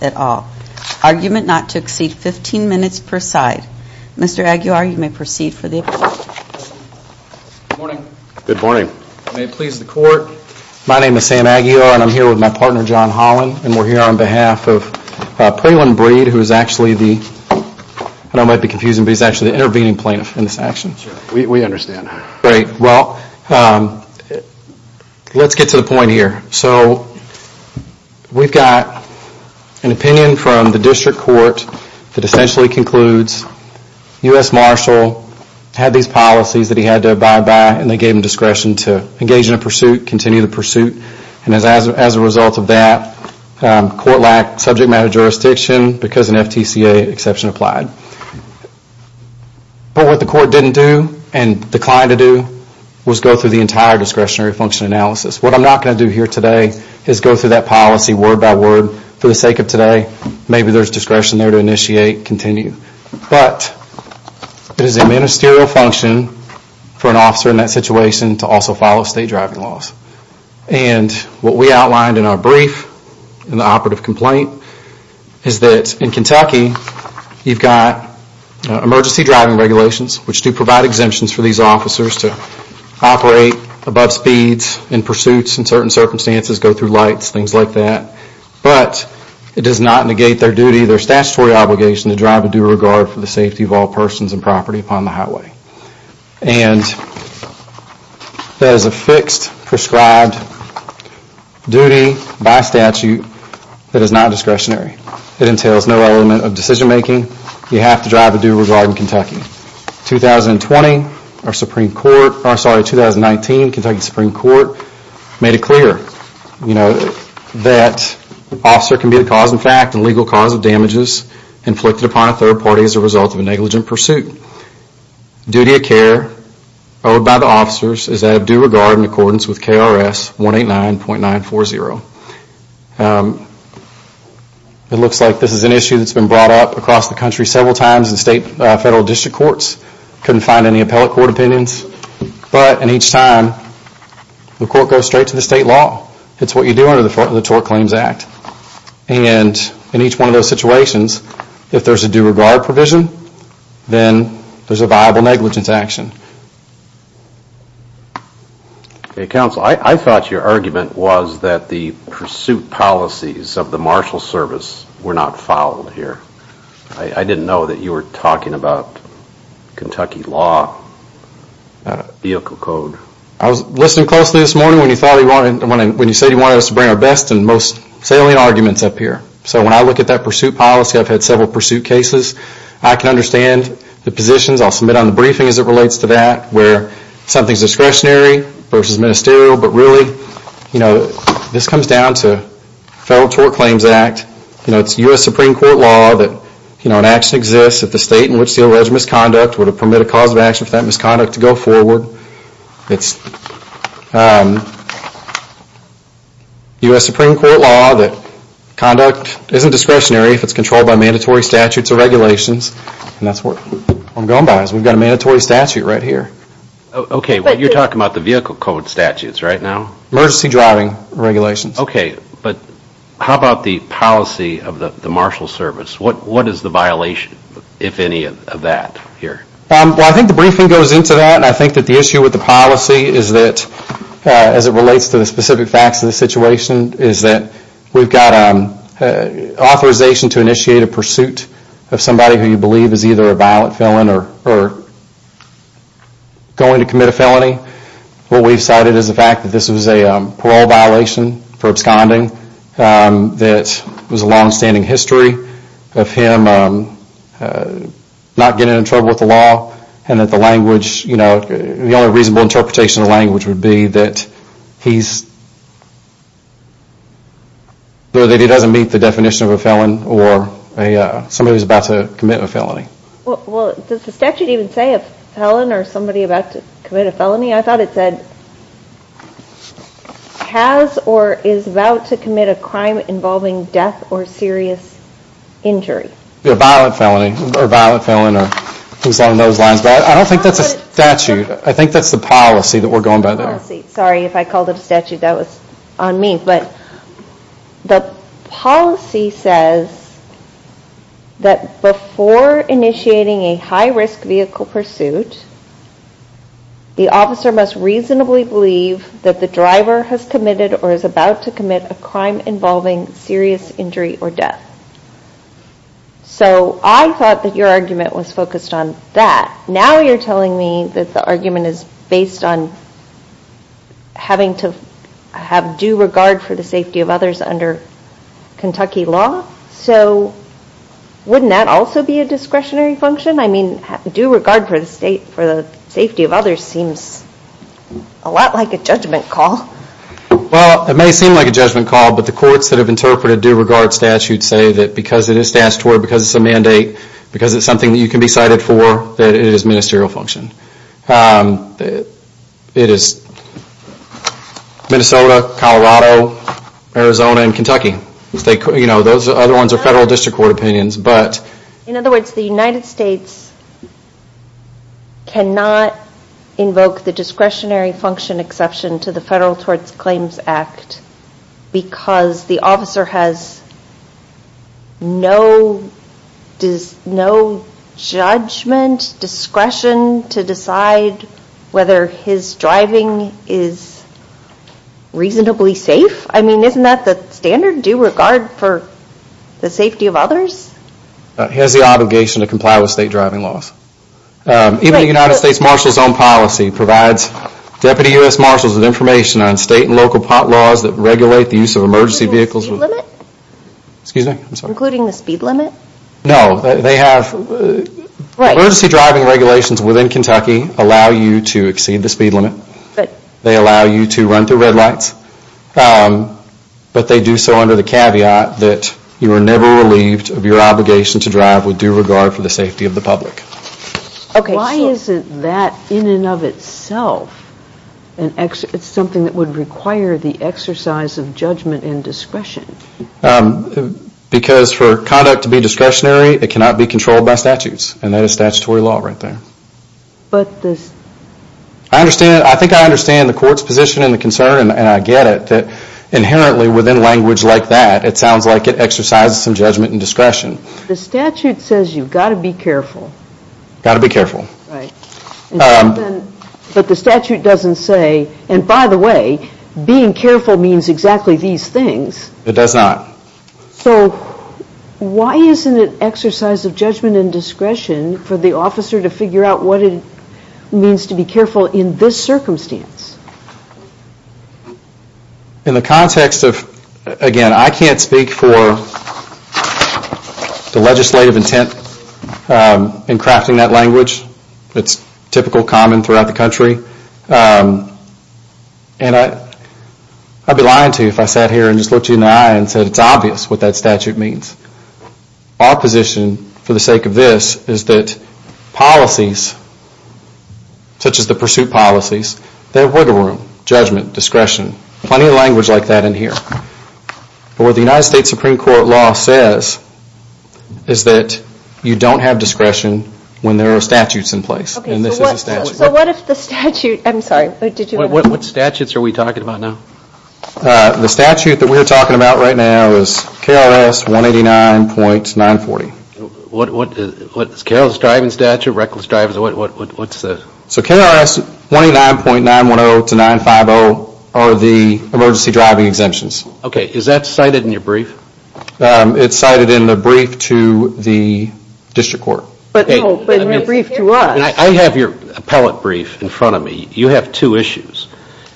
at all. Argument not to exceed 15 minutes per side. Mr. Aguiar, you may proceed for the appellate. Good morning. Good morning. May it please the court, my name is Sam Aguiar and I'm here with my partner John Holland and we're here on behalf of Praline Breed who is actually the, I know it might be confusing, but he's actually the intervening plaintiff in this action. We understand. Great. Well, let's get to the point here. So, we've got an opinion from the district court that essentially concludes U.S. Marshall had these policies that he had to abide by and they gave him discretion to engage in a pursuit, continue the pursuit, and as a result of that, court lacked subject matter jurisdiction because an FTCA exception applied. But what the court didn't do and declined to do was go through the entire discretionary function analysis. What I'm not going to do here today is go through that policy word by word for the sake of today. Maybe there's discretion there to initiate, continue. But it is a ministerial function for an officer in that situation to also follow state driving laws. And what we outlined in our brief in the operative complaint is that in Kentucky, you've got emergency driving regulations which do provide exemptions for these officers to operate above speeds in pursuits in certain circumstances, go through lights, things like that. But it does not negate their duty, their statutory obligation to drive with due regard for the safety of all persons and property upon the highway. And that is a fixed prescribed duty by statute that is not discretionary. It entails no element of decision-making. You have to drive with due regard in Kentucky. In 2019, Kentucky Supreme Court made it clear, you know, that an officer can be the cause in fact and legal cause of damages inflicted upon a third party as a result of a negligent pursuit. Duty of care owed by the officers is that of due regard in accordance with KRS 189.940. It looks like this is an issue that's been brought up across the country several times in state and federal district courts. Couldn't find any appellate court opinions. But in each time, the court goes straight to the state law. It's what you do under the Tort Claims Act. And in each one of those situations, if there's a due regard provision, then there's a viable negligence action. Okay, counsel, I thought your argument was that the pursuit policies of the marshal service were not followed here. I didn't know that you were talking about Kentucky law, vehicle code. I was listening closely this morning when you said you wanted us to bring our best and most salient arguments up here. So when I look at that pursuit policy, I've had several pursuit cases. I can understand the positions. I'll submit on the briefing as it relates to that where something's discretionary versus ministerial. But really, you know, this comes down to Federal Tort Claims Act. You know, it's U.S. Supreme Court law that, you know, an action exists at the state in which the alleged misconduct would permit a cause of action for that misconduct to go forward. It's U.S. Supreme Court law that conduct isn't discretionary if it's controlled by mandatory statutes or regulations. And that's what I'm going by. We've got a mandatory statute right here. Okay, but you're talking about the vehicle code statutes right now? Emergency driving regulations. Okay, but how about the policy of the marshal service? What is the violation, if any, of that here? Well, I think the briefing goes into that and I think that the issue with the policy is that, as it relates to the specific facts of the situation, is that we've got authorization to initiate a pursuit of somebody who you believe is either a violent felon or going to commit a felony. What we've cited is the fact that this was a parole violation for absconding that was a long-standing history of him not getting in trouble with the law and that the language, you know, the only reasonable interpretation of the language would be that he's, that he doesn't meet the definition of a felon or somebody who's about to commit a felony. Well, does the statute even say a felon or somebody about to commit a felony? I thought it said, has or is about to commit a crime involving death or serious injury. A violent felony or violent felon or things along those lines, but I don't think that's a statute. I think that's the policy that we're going by there. Sorry, if I called it a statute that was on me, but the policy says that before initiating a high risk vehicle pursuit, the officer must reasonably believe that the driver has committed or is about to commit a crime involving serious injury or death. So I thought that your argument was focused on that. Now you're telling me that the argument is based on having to have due regard for the safety of others under Kentucky law. So wouldn't that also be a discretionary function? I mean, due regard for the state for the safety of others seems a lot like a judgment call. Well, it may seem like a judgment call, but the courts that have interpreted due regard statutes say that because it is statutory, because it's a mandate, because it's something that you can be cited for, that it is ministerial function. It is Minnesota, Colorado, Arizona and Kentucky. Those other ones are federal district court opinions. In other words, the United States cannot invoke the discretionary function exception to the Federal Towards Claims Act because the officer has no judgment, discretion to decide whether his driving is reasonably safe. I mean, isn't that the standard, due regard for the safety of others? He has the obligation to comply with state driving laws. Even the United States Marshal's own policy provides Deputy U.S. Marshals with information on state and local pot laws that regulate the use of emergency vehicles. Including the speed limit? Excuse me, I'm sorry. Including the speed limit? No, they have... Right. The emergency driving regulations within Kentucky allow you to exceed the speed limit. They allow you to run through red lights, but they do so under the caveat that you are never relieved of your obligation to drive with due regard for the safety of the public. Okay, so... Why isn't that in and of itself something that would require the exercise of judgment and discretion? Because for conduct to be discretionary, it cannot be controlled by statutes and that statutory law right there. But the... I understand, I think I understand the court's position and the concern, and I get it, that inherently within language like that, it sounds like it exercises some judgment and discretion. The statute says you've got to be careful. Got to be careful. Right. But the statute doesn't say, and by the way, being careful means exactly these things. It does not. So why isn't it exercise of judgment and discretion for the officer to figure out what it means to be careful in this circumstance? In the context of, again, I can't speak for the legislative intent in crafting that language. It's typical, common throughout the country. And I'd be lying to you if I sat here and just looked you in the eye and said it's obvious what that statute means. Our position, for the sake of this, is that policies, such as the pursuit policies, they have wiggle room. Discretion. Plenty of language like that in here. But what the United States Supreme Court law says is that you don't have discretion when there are statutes in place. And this is a statute. So what if the statute, I'm sorry, what statutes are we talking about now? The statute that we're talking about right now is KRS 189.940. What's Carol's driving statute, reckless driving, what's that? So KRS 189.910 to 950 are the emergency driving exemptions. Okay, is that cited in your brief? It's cited in the brief to the district court. But no, but in your brief to us. I have your appellate brief in front of me. You have two issues.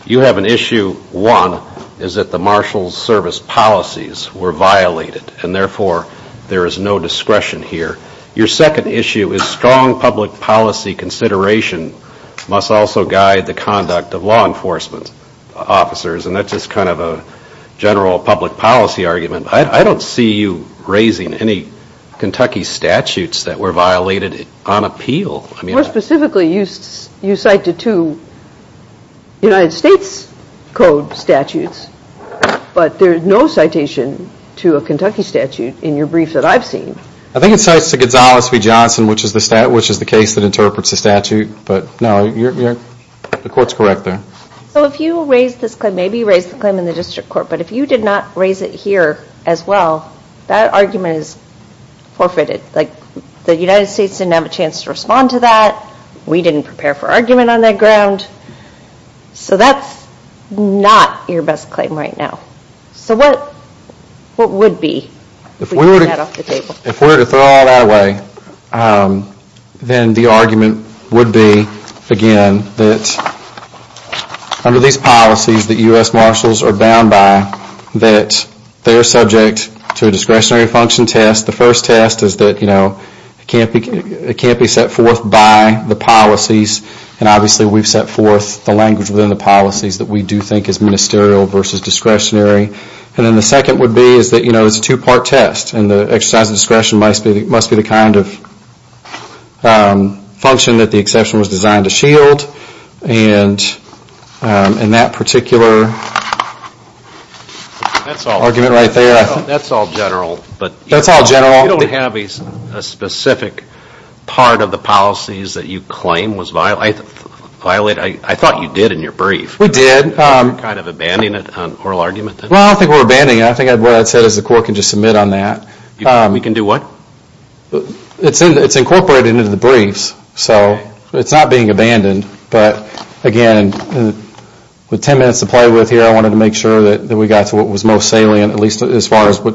You have an issue, one, is that the marshal's service policies were violated and therefore there is no discretion here. Your second issue is strong public policy consideration must also guide the conduct of law enforcement officers and that's just kind of a general public policy argument. I don't see you raising any Kentucky statutes that were violated on appeal. More specifically, you cited two United States Code statutes, but there's no citation to a Kentucky statute in your brief that I've seen. I think it cites Gonzales v. Johnson, which is the case that interprets the statute, but no, the court's correct there. So if you raised this claim, maybe you raised the claim in the district court, but if you did not raise it here as well, that argument is forfeited. Like the United States didn't have a chance to respond to that. We didn't prepare for argument on that ground. So that's not your best claim right now. So what would be? If we were to throw all that away, then the argument would be, again, that under these policies that U.S. marshals are bound by, that they are subject to a discretionary function test. The first test is that it can't be set forth by the policies, and obviously we've set forth the language within the policies that we do think is ministerial versus discretionary. And then the second would be that it's a two-part test, and the exercise of discretion must be the kind of function that the exception was designed to shield. And in that particular argument right there, that's all general, but you don't have a specific part of the policies that you claim was violated. I thought you did in your brief. We did. You're kind of abandoning it on oral argument. Well, I don't think we're abandoning it. I think what I said is the court can just submit on that. We can do what? It's incorporated into the briefs, so it's not being abandoned. But again, with ten minutes to play with here, I wanted to make sure that we got to what was most salient, at least as far as what...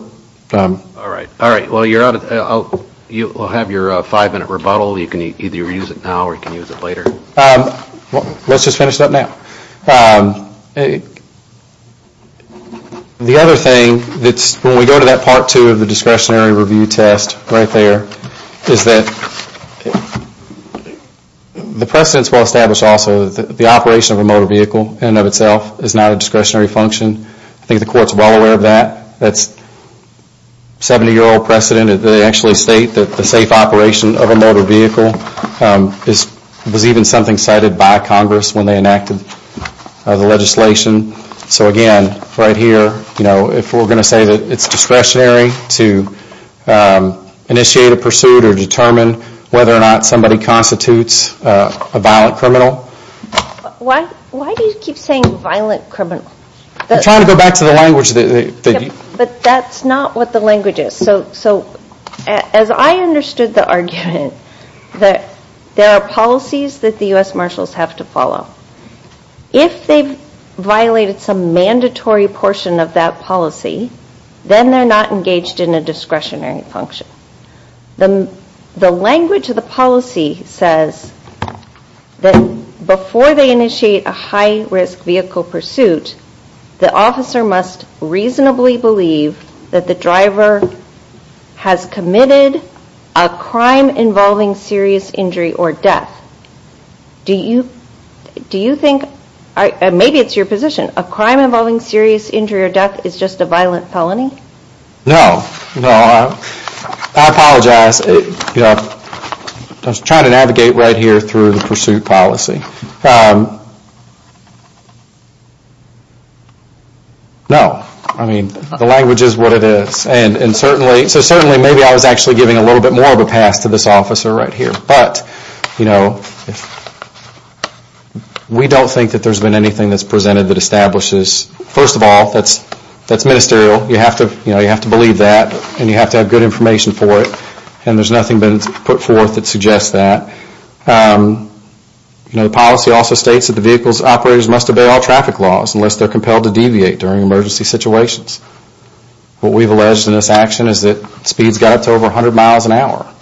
All right. All right. Well, you're out. You'll have your five-minute rebuttal. You can either use it now or you can use it later. Let's just finish it up now. The other thing, when we go to that part two of the discretionary review test right there, is that the precedents were established also that the operation of a motor vehicle in and of itself is not a discretionary function. I think the court's well aware of that. That's a 70-year-old precedent. They actually state that the safe operation of a motor vehicle was even something cited by Congress when they enacted the legislation. So again, right here, if we're going to say that it's discretionary to initiate a pursuit or determine whether or not somebody constitutes a violent criminal... Why do you keep saying violent criminal? I'm trying to go back to the language that you... But that's not what the language is. So as I understood the argument that there are policies that the U.S. Marshals have to follow, if they've violated some mandatory portion of that policy, then they're not engaged in a discretionary function. The language of the policy says that before they initiate a high-risk vehicle pursuit, the officer must reasonably believe that the driver has committed a crime involving serious injury or death. Do you think... Maybe it's your position. A crime involving serious injury or death is just a violent felony? No. No. I apologize. I was trying to navigate right here through the pursuit policy. No. I mean, the language is what it is. And certainly, maybe I was actually giving a little bit more of a pass to this officer right here, but we don't think that there's been anything that's presented that establishes... First of all, that's ministerial. You have to believe that, and you have to have good information for it, and there's nothing been put forth that suggests that. The policy also states that the vehicle's operators must obey all traffic laws unless they're compelled to deviate during emergency situations. What we've alleged in this action is that speeds got up to over 100 miles an hour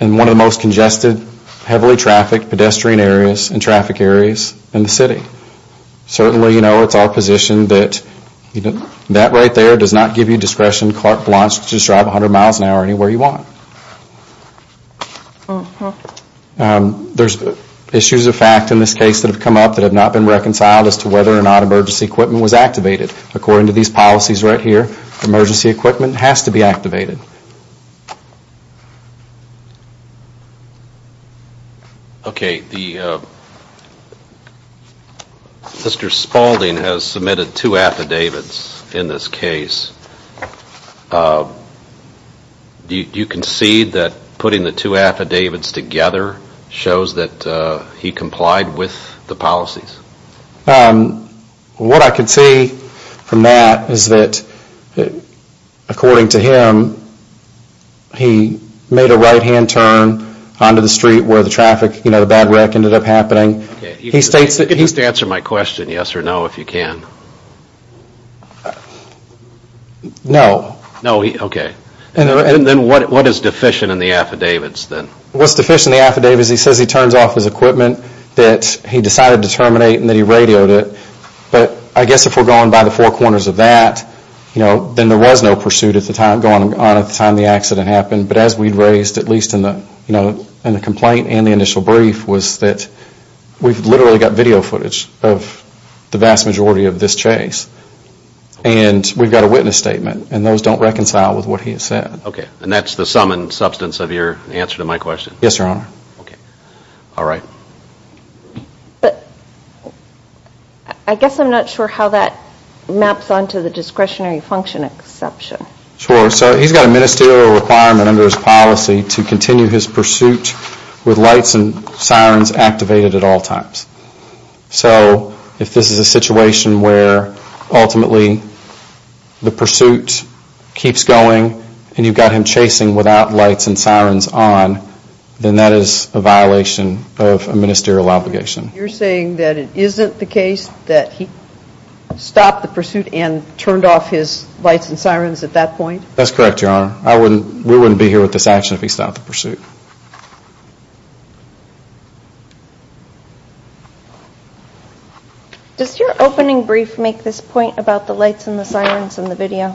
in one of the most congested, heavily trafficked pedestrian areas and traffic areas in the city. Certainly, you know, it's our position that that right there does not give you discretion. Clark Blanche, you can just drive 100 miles an hour anywhere you want. There's issues of fact in this case that have come up that have not been reconciled as to whether or not emergency equipment was activated. According to these policies right here, emergency equipment has to be activated. Okay, the, Mr. Spaulding has submitted two affidavits in this case. Do you concede that putting the two affidavits together shows that he complied with the policies? What I can see from that is that, according to him, he made a right-hand turn onto the street where the traffic, you know, the bad wreck ended up happening. He states that he... Answer my question, yes or no, if you can. No. No. Okay. And then what is deficient in the affidavits then? What's deficient in the affidavits, he says he turns off his equipment that he decided to terminate and that he radioed it. But I guess if we're going by the four corners of that, you know, then there was no pursuit at the time, going on at the time the accident happened. But as we raised, at least in the complaint and the initial brief, was that we've literally got video footage of the vast majority of this chase and we've got a witness statement and those don't reconcile with what he has said. Okay. And that's the sum and substance of your answer to my question? Yes, your honor. Okay. All right. But I guess I'm not sure how that maps onto the discretionary function exception. Sure. So he's got a ministerial requirement under his policy to continue his pursuit with lights and sirens activated at all times. So if this is a situation where ultimately the pursuit keeps going and you've got him chasing without lights and sirens on, then that is a violation of a ministerial obligation. You're saying that it isn't the case that he stopped the pursuit and turned off his lights and sirens at that point? That's correct, your honor. I wouldn't, we wouldn't be here with this action if he stopped the pursuit. Does your opening brief make this point about the lights and the sirens in the video?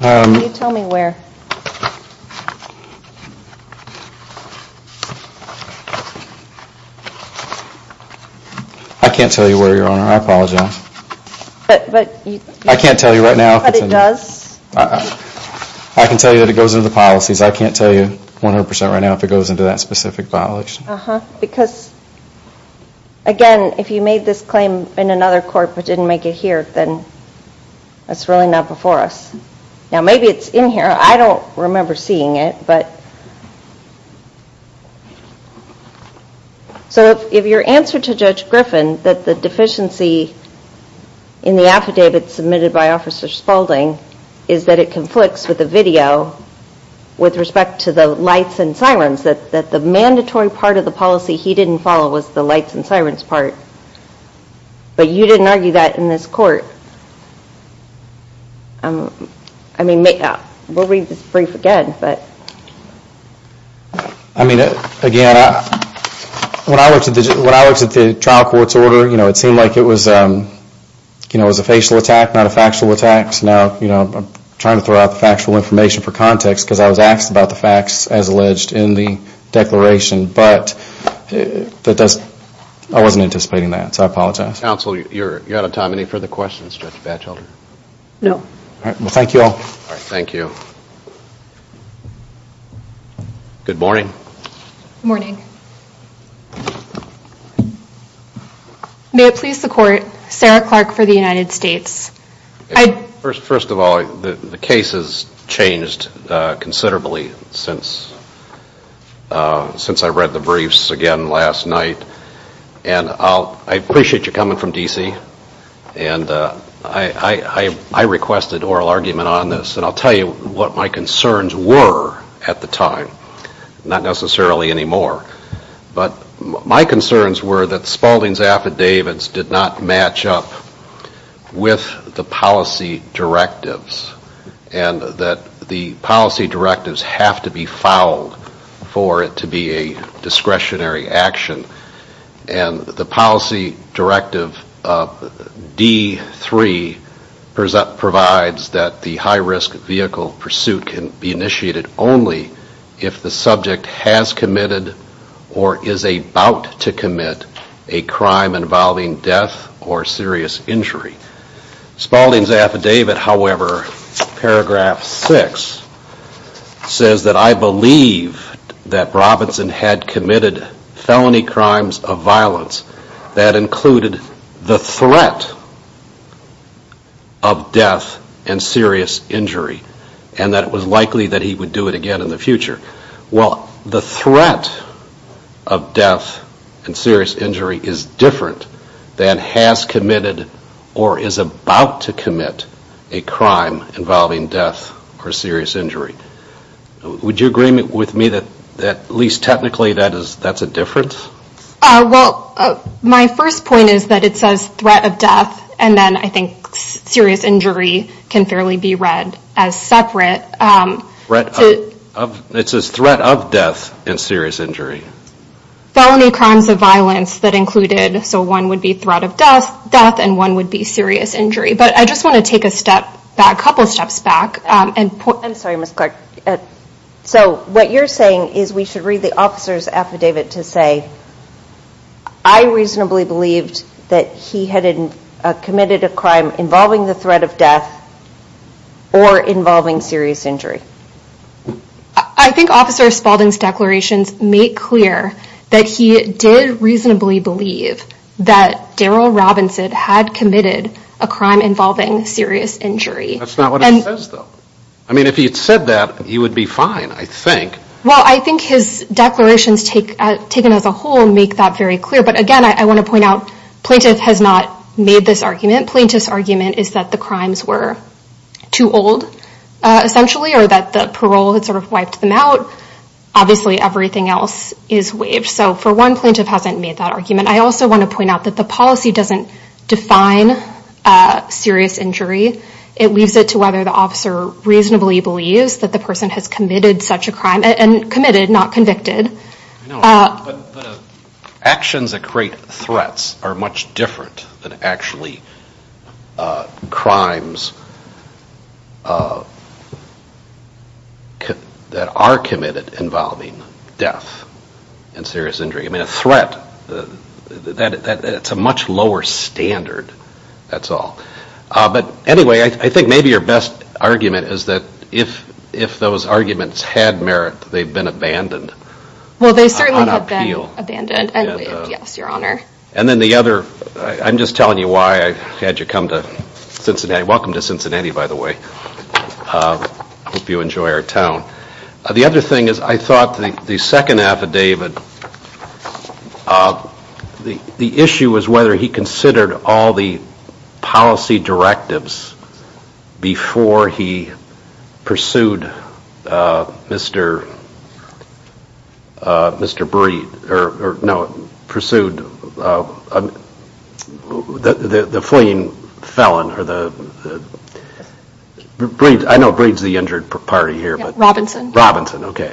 Can you tell me where? I can't tell you where, your honor. I apologize. But, but you... I can't tell you right now. But it does? I can tell you that it goes into the policies. I can't tell you 100% right now if it goes into that specific violation. Because again, if you made this claim in another court but didn't make it here, then that's really not before us. Now maybe it's in here. I don't remember seeing it, but... So if your answer to Judge Griffin that the deficiency in the affidavit submitted by Officer Spaulding is that it conflicts with the video with respect to the lights and sirens, that the mandatory part of the policy he didn't follow was the lights and sirens part, but you didn't argue that in this court. I mean, we'll read this brief again, but... I mean, again, when I looked at the trial court's order, you know, it seemed like it was a facial attack, not a factual attack, so now I'm trying to throw out the factual information for context because I was asked about the facts as alleged in the declaration, but I wasn't anticipating that, so I apologize. Counsel, you're out of time. Any further questions, Judge Batchelder? No. All right. Well, thank you all. All right. Thank you. Good morning. Good morning. May it please the Court, Sarah Clark for the United States. First of all, the case has changed considerably since I read the briefs again last night, and I appreciate you coming from D.C., and I requested oral argument on this, and I'll tell you what my concerns were at the time, not necessarily anymore, but my concerns were that Spaulding's affidavits did not match up with the policy directives and that the policy directives have to be fouled for it to be a discretionary action, and the policy directive D.3 provides that the high-risk vehicle pursuit can be initiated only if the subject has committed or is about to commit a crime involving death or serious injury. Spaulding's affidavit, however, paragraph 6, says that I believe that Robinson had committed felony crimes of violence that included the threat of death and serious injury, and that it was likely that he would do it again in the future. Well, the threat of death and serious injury is different than has committed or is about to commit a crime involving death or serious injury. Would you agree with me that at least technically that's a difference? Well, my first point is that it says threat of death, and then I think serious injury can fairly be read as separate. It says threat of death and serious injury. Felony crimes of violence that included, so one would be threat of death and one would be serious injury, but I just want to take a step back, a couple of steps back, and point I'm sorry, Ms. Clark. So what you're saying is we should read the officer's affidavit to say I reasonably believed that he had committed a crime involving the threat of death or involving serious injury. I think Officer Spaulding's declarations make clear that he did reasonably believe that Daryl Robinson had committed a crime involving serious injury. That's not what it says, though. I mean, if he had said that, he would be fine, I think. Well, I think his declarations taken as a whole make that very clear, but again, I want to point out plaintiff has not made this argument. Plaintiff's argument is that the crimes were too old, essentially, or that the parole had sort of wiped them out. Obviously, everything else is waived. So for one, plaintiff hasn't made that argument. I also want to point out that the policy doesn't define serious injury. It leaves it to whether the officer reasonably believes that the person has committed such a crime and committed, not convicted. I know, but actions that create threats are much different than actually crimes that are committed involving death and serious injury. I mean, a threat, that's a much lower standard, that's all. But anyway, I think maybe your best argument is that if those arguments had merit, they've been abandoned. Well, they certainly have been abandoned and waived, yes, your honor. And then the other, I'm just telling you why I had you come to Cincinnati, welcome to Cincinnati, by the way. I hope you enjoy our town. The other thing is, I thought the second affidavit, the issue was whether he considered all the policy directives before he pursued Mr. Breed, or no, pursued the fleeing felon, I know Breed's the injured party here, but Robinson, okay.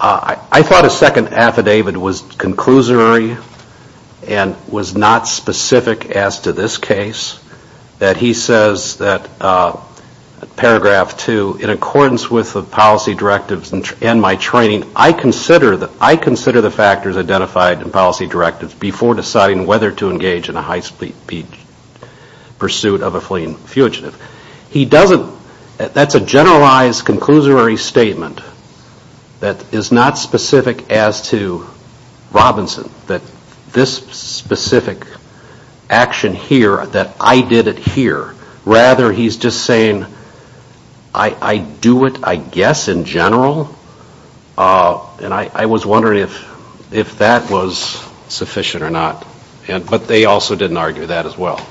I thought his second affidavit was conclusory and was not specific as to this case, that he says that paragraph two, in accordance with the policy directives and my training, I consider the factors identified in policy directives before deciding whether to engage in a high speed pursuit of a fleeing fugitive. He doesn't, that's a generalized conclusory statement that is not specific as to Robinson, that this specific action here, that I did it here, rather he's just saying, I do it, I guess, in general, and I was wondering if that was sufficient or not, but they also didn't argue that as well.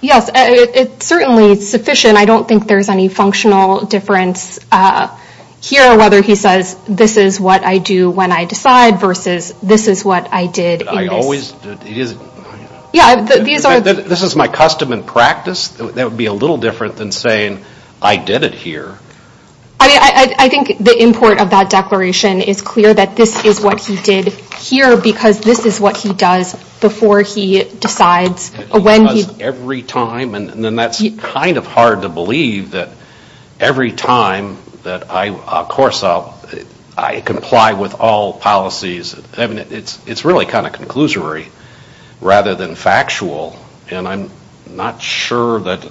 Yes, it's certainly sufficient. I don't think there's any functional difference here, whether he says, this is what I do when I decide, versus this is what I did in this. I always, it is, this is my custom and practice, that would be a little different than saying, I did it here. I think the import of that declaration is clear that this is what he did here, because this is what he does before he decides when he... He does every time, and then that's kind of hard to believe that every time that I, of course, I comply with all policies. It's really kind of conclusory, rather than factual, and I'm not sure that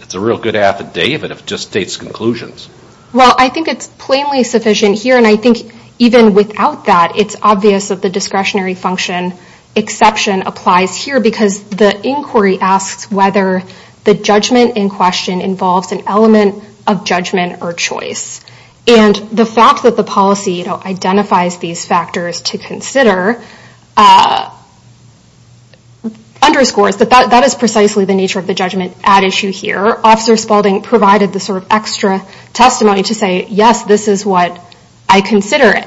it's a real good affidavit if it just states conclusions. Well, I think it's plainly sufficient here, and I think even without that, it's obvious that the discretionary function exception applies here, because the inquiry asks whether the judgment in question involves an element of judgment or choice. And the fact that the policy identifies these factors to consider underscores that that is precisely the nature of the judgment at issue here. Officer Spalding provided the sort of extra testimony to say, yes, this is what I consider it.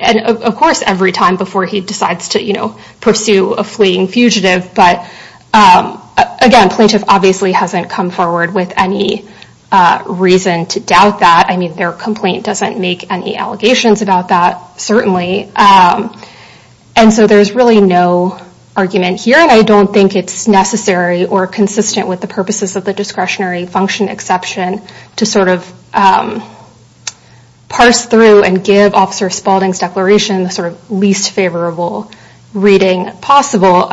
And of course, every time before he decides to pursue a fleeing fugitive, but again, plaintiff obviously hasn't come forward with any reason to doubt that. I mean, their complaint doesn't make any allegations about that, certainly. And so there's really no argument here, and I don't think it's necessary or consistent with the purposes of the discretionary function exception to sort of parse through and give Officer Spalding's declaration the sort of least favorable reading possible,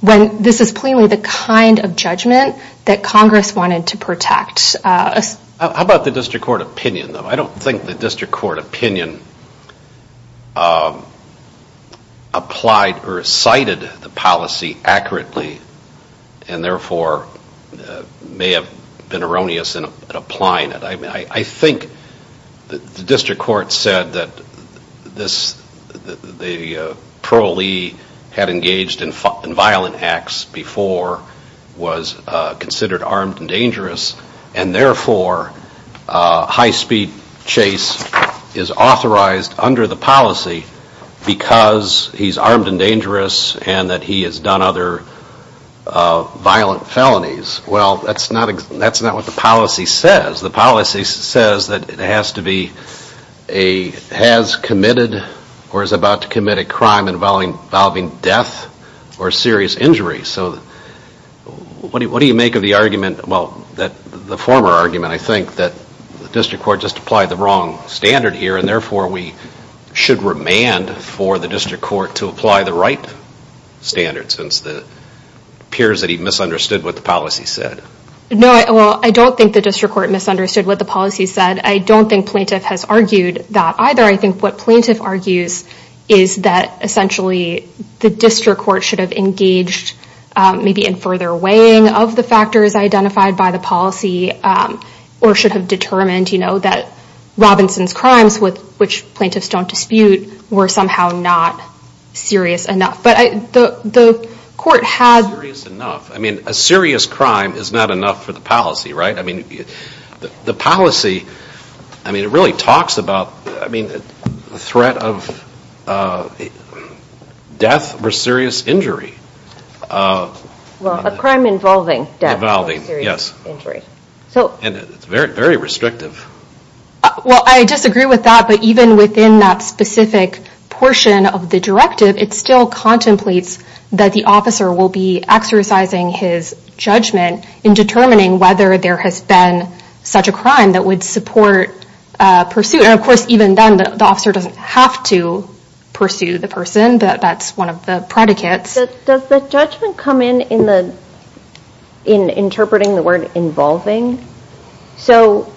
when this is plainly the kind of judgment that Congress wanted to protect. How about the district court opinion, though? I don't think the district court opinion applied or cited the policy accurately, and therefore may have been erroneous in applying it. I think the district court said that the parolee had engaged in violent acts before, was considered armed and dangerous, and therefore high-speed chase is authorized under the policy because he's armed and dangerous and that he has done other violent felonies. Well, that's not what the policy says. The policy says that it has to be a, has committed or is about to commit a crime involving death or serious injury. So what do you make of the argument, well, the former argument, I think, that the district court just applied the wrong standard here, and therefore we should remand for the district court to apply the right standard, since it appears that he misunderstood what the policy said. No, well, I don't think the district court misunderstood what the policy said. I don't think plaintiff has argued that either. I think what plaintiff argues is that essentially the district court should have engaged maybe in further weighing of the factors identified by the policy, or should have determined, you know, that Robinson's crimes, which plaintiffs don't dispute, were somehow not serious enough. But the court had... Serious enough. I mean, a serious crime is not enough for the policy, right? I mean, the policy, I mean, it really talks about, I mean, the threat of death or serious injury. Well, a crime involving death or serious injury. And it's very, very restrictive. Well, I disagree with that, but even within that specific portion of the directive, it's still contemplates that the officer will be exercising his judgment in determining whether there has been such a crime that would support pursuit. And of course, even then, the officer doesn't have to pursue the person, but that's one of the predicates. Does the judgment come in interpreting the word involving? So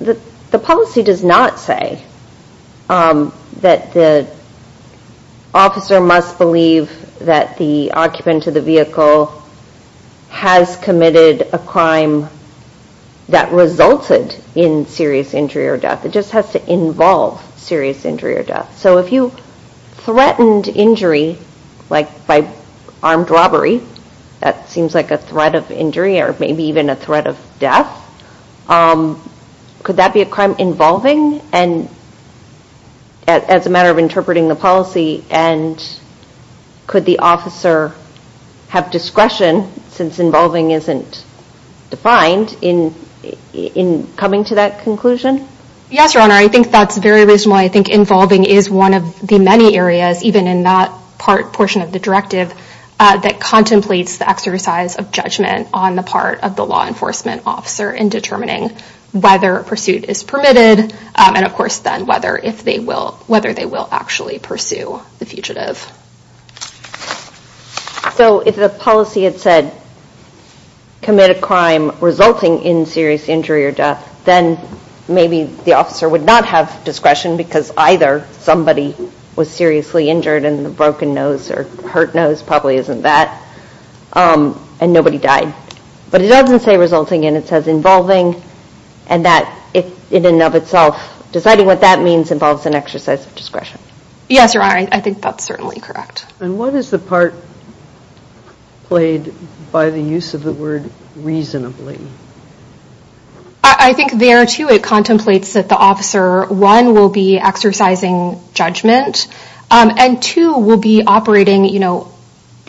the policy does not say that the officer must believe that the occupant of the vehicle has committed a crime that resulted in serious injury or death. It just has to involve serious injury or death. So if you threatened injury, like by armed robbery, that seems like a threat of injury or maybe even a threat of death, could that be a crime involving and as a matter of interpreting the policy and could the officer have discretion since involving isn't defined in coming to that conclusion? Yes, Your Honor. I think that's very reasonable. I think involving is one of the many areas, even in that part portion of the directive, that contemplates the exercise of judgment on the part of the law enforcement officer in determining whether pursuit is permitted and, of course, then whether they will actually pursue the fugitive. So if the policy had said, commit a crime resulting in serious injury or death, then maybe the officer would not have discretion because either somebody was seriously injured and the broken nose or hurt nose probably isn't that, and nobody died. But it doesn't say resulting in. It says involving and that in and of itself, deciding what that means involves an exercise of discretion. Yes, Your Honor. I think that's certainly correct. And what is the part played by the use of the word reasonably? I think there, too, it contemplates that the officer, one, will be exercising judgment and, two, will be operating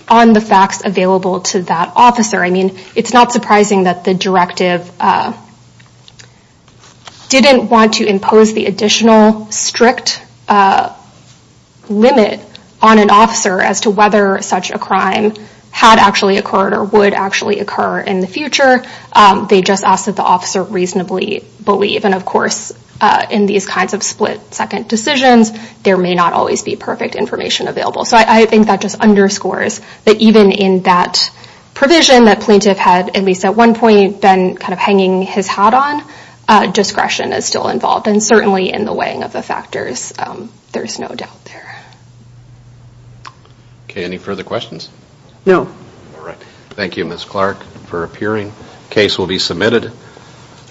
on the facts available to that officer. I mean, it's not surprising that the directive didn't want to impose the additional strict limit on an officer as to whether such a crime had actually occurred or would actually occur in the future. They just asked that the officer reasonably believe. And, of course, in these kinds of split-second decisions, there may not always be perfect information available. So I think that just underscores that even in that provision that plaintiff had, at least at one point, been kind of hanging his hat on, discretion is still involved. And certainly in the weighing of the factors, there's no doubt there. Okay. Any further questions? No. All right. Thank you, Ms. Clark, for appearing. Case will be submitted.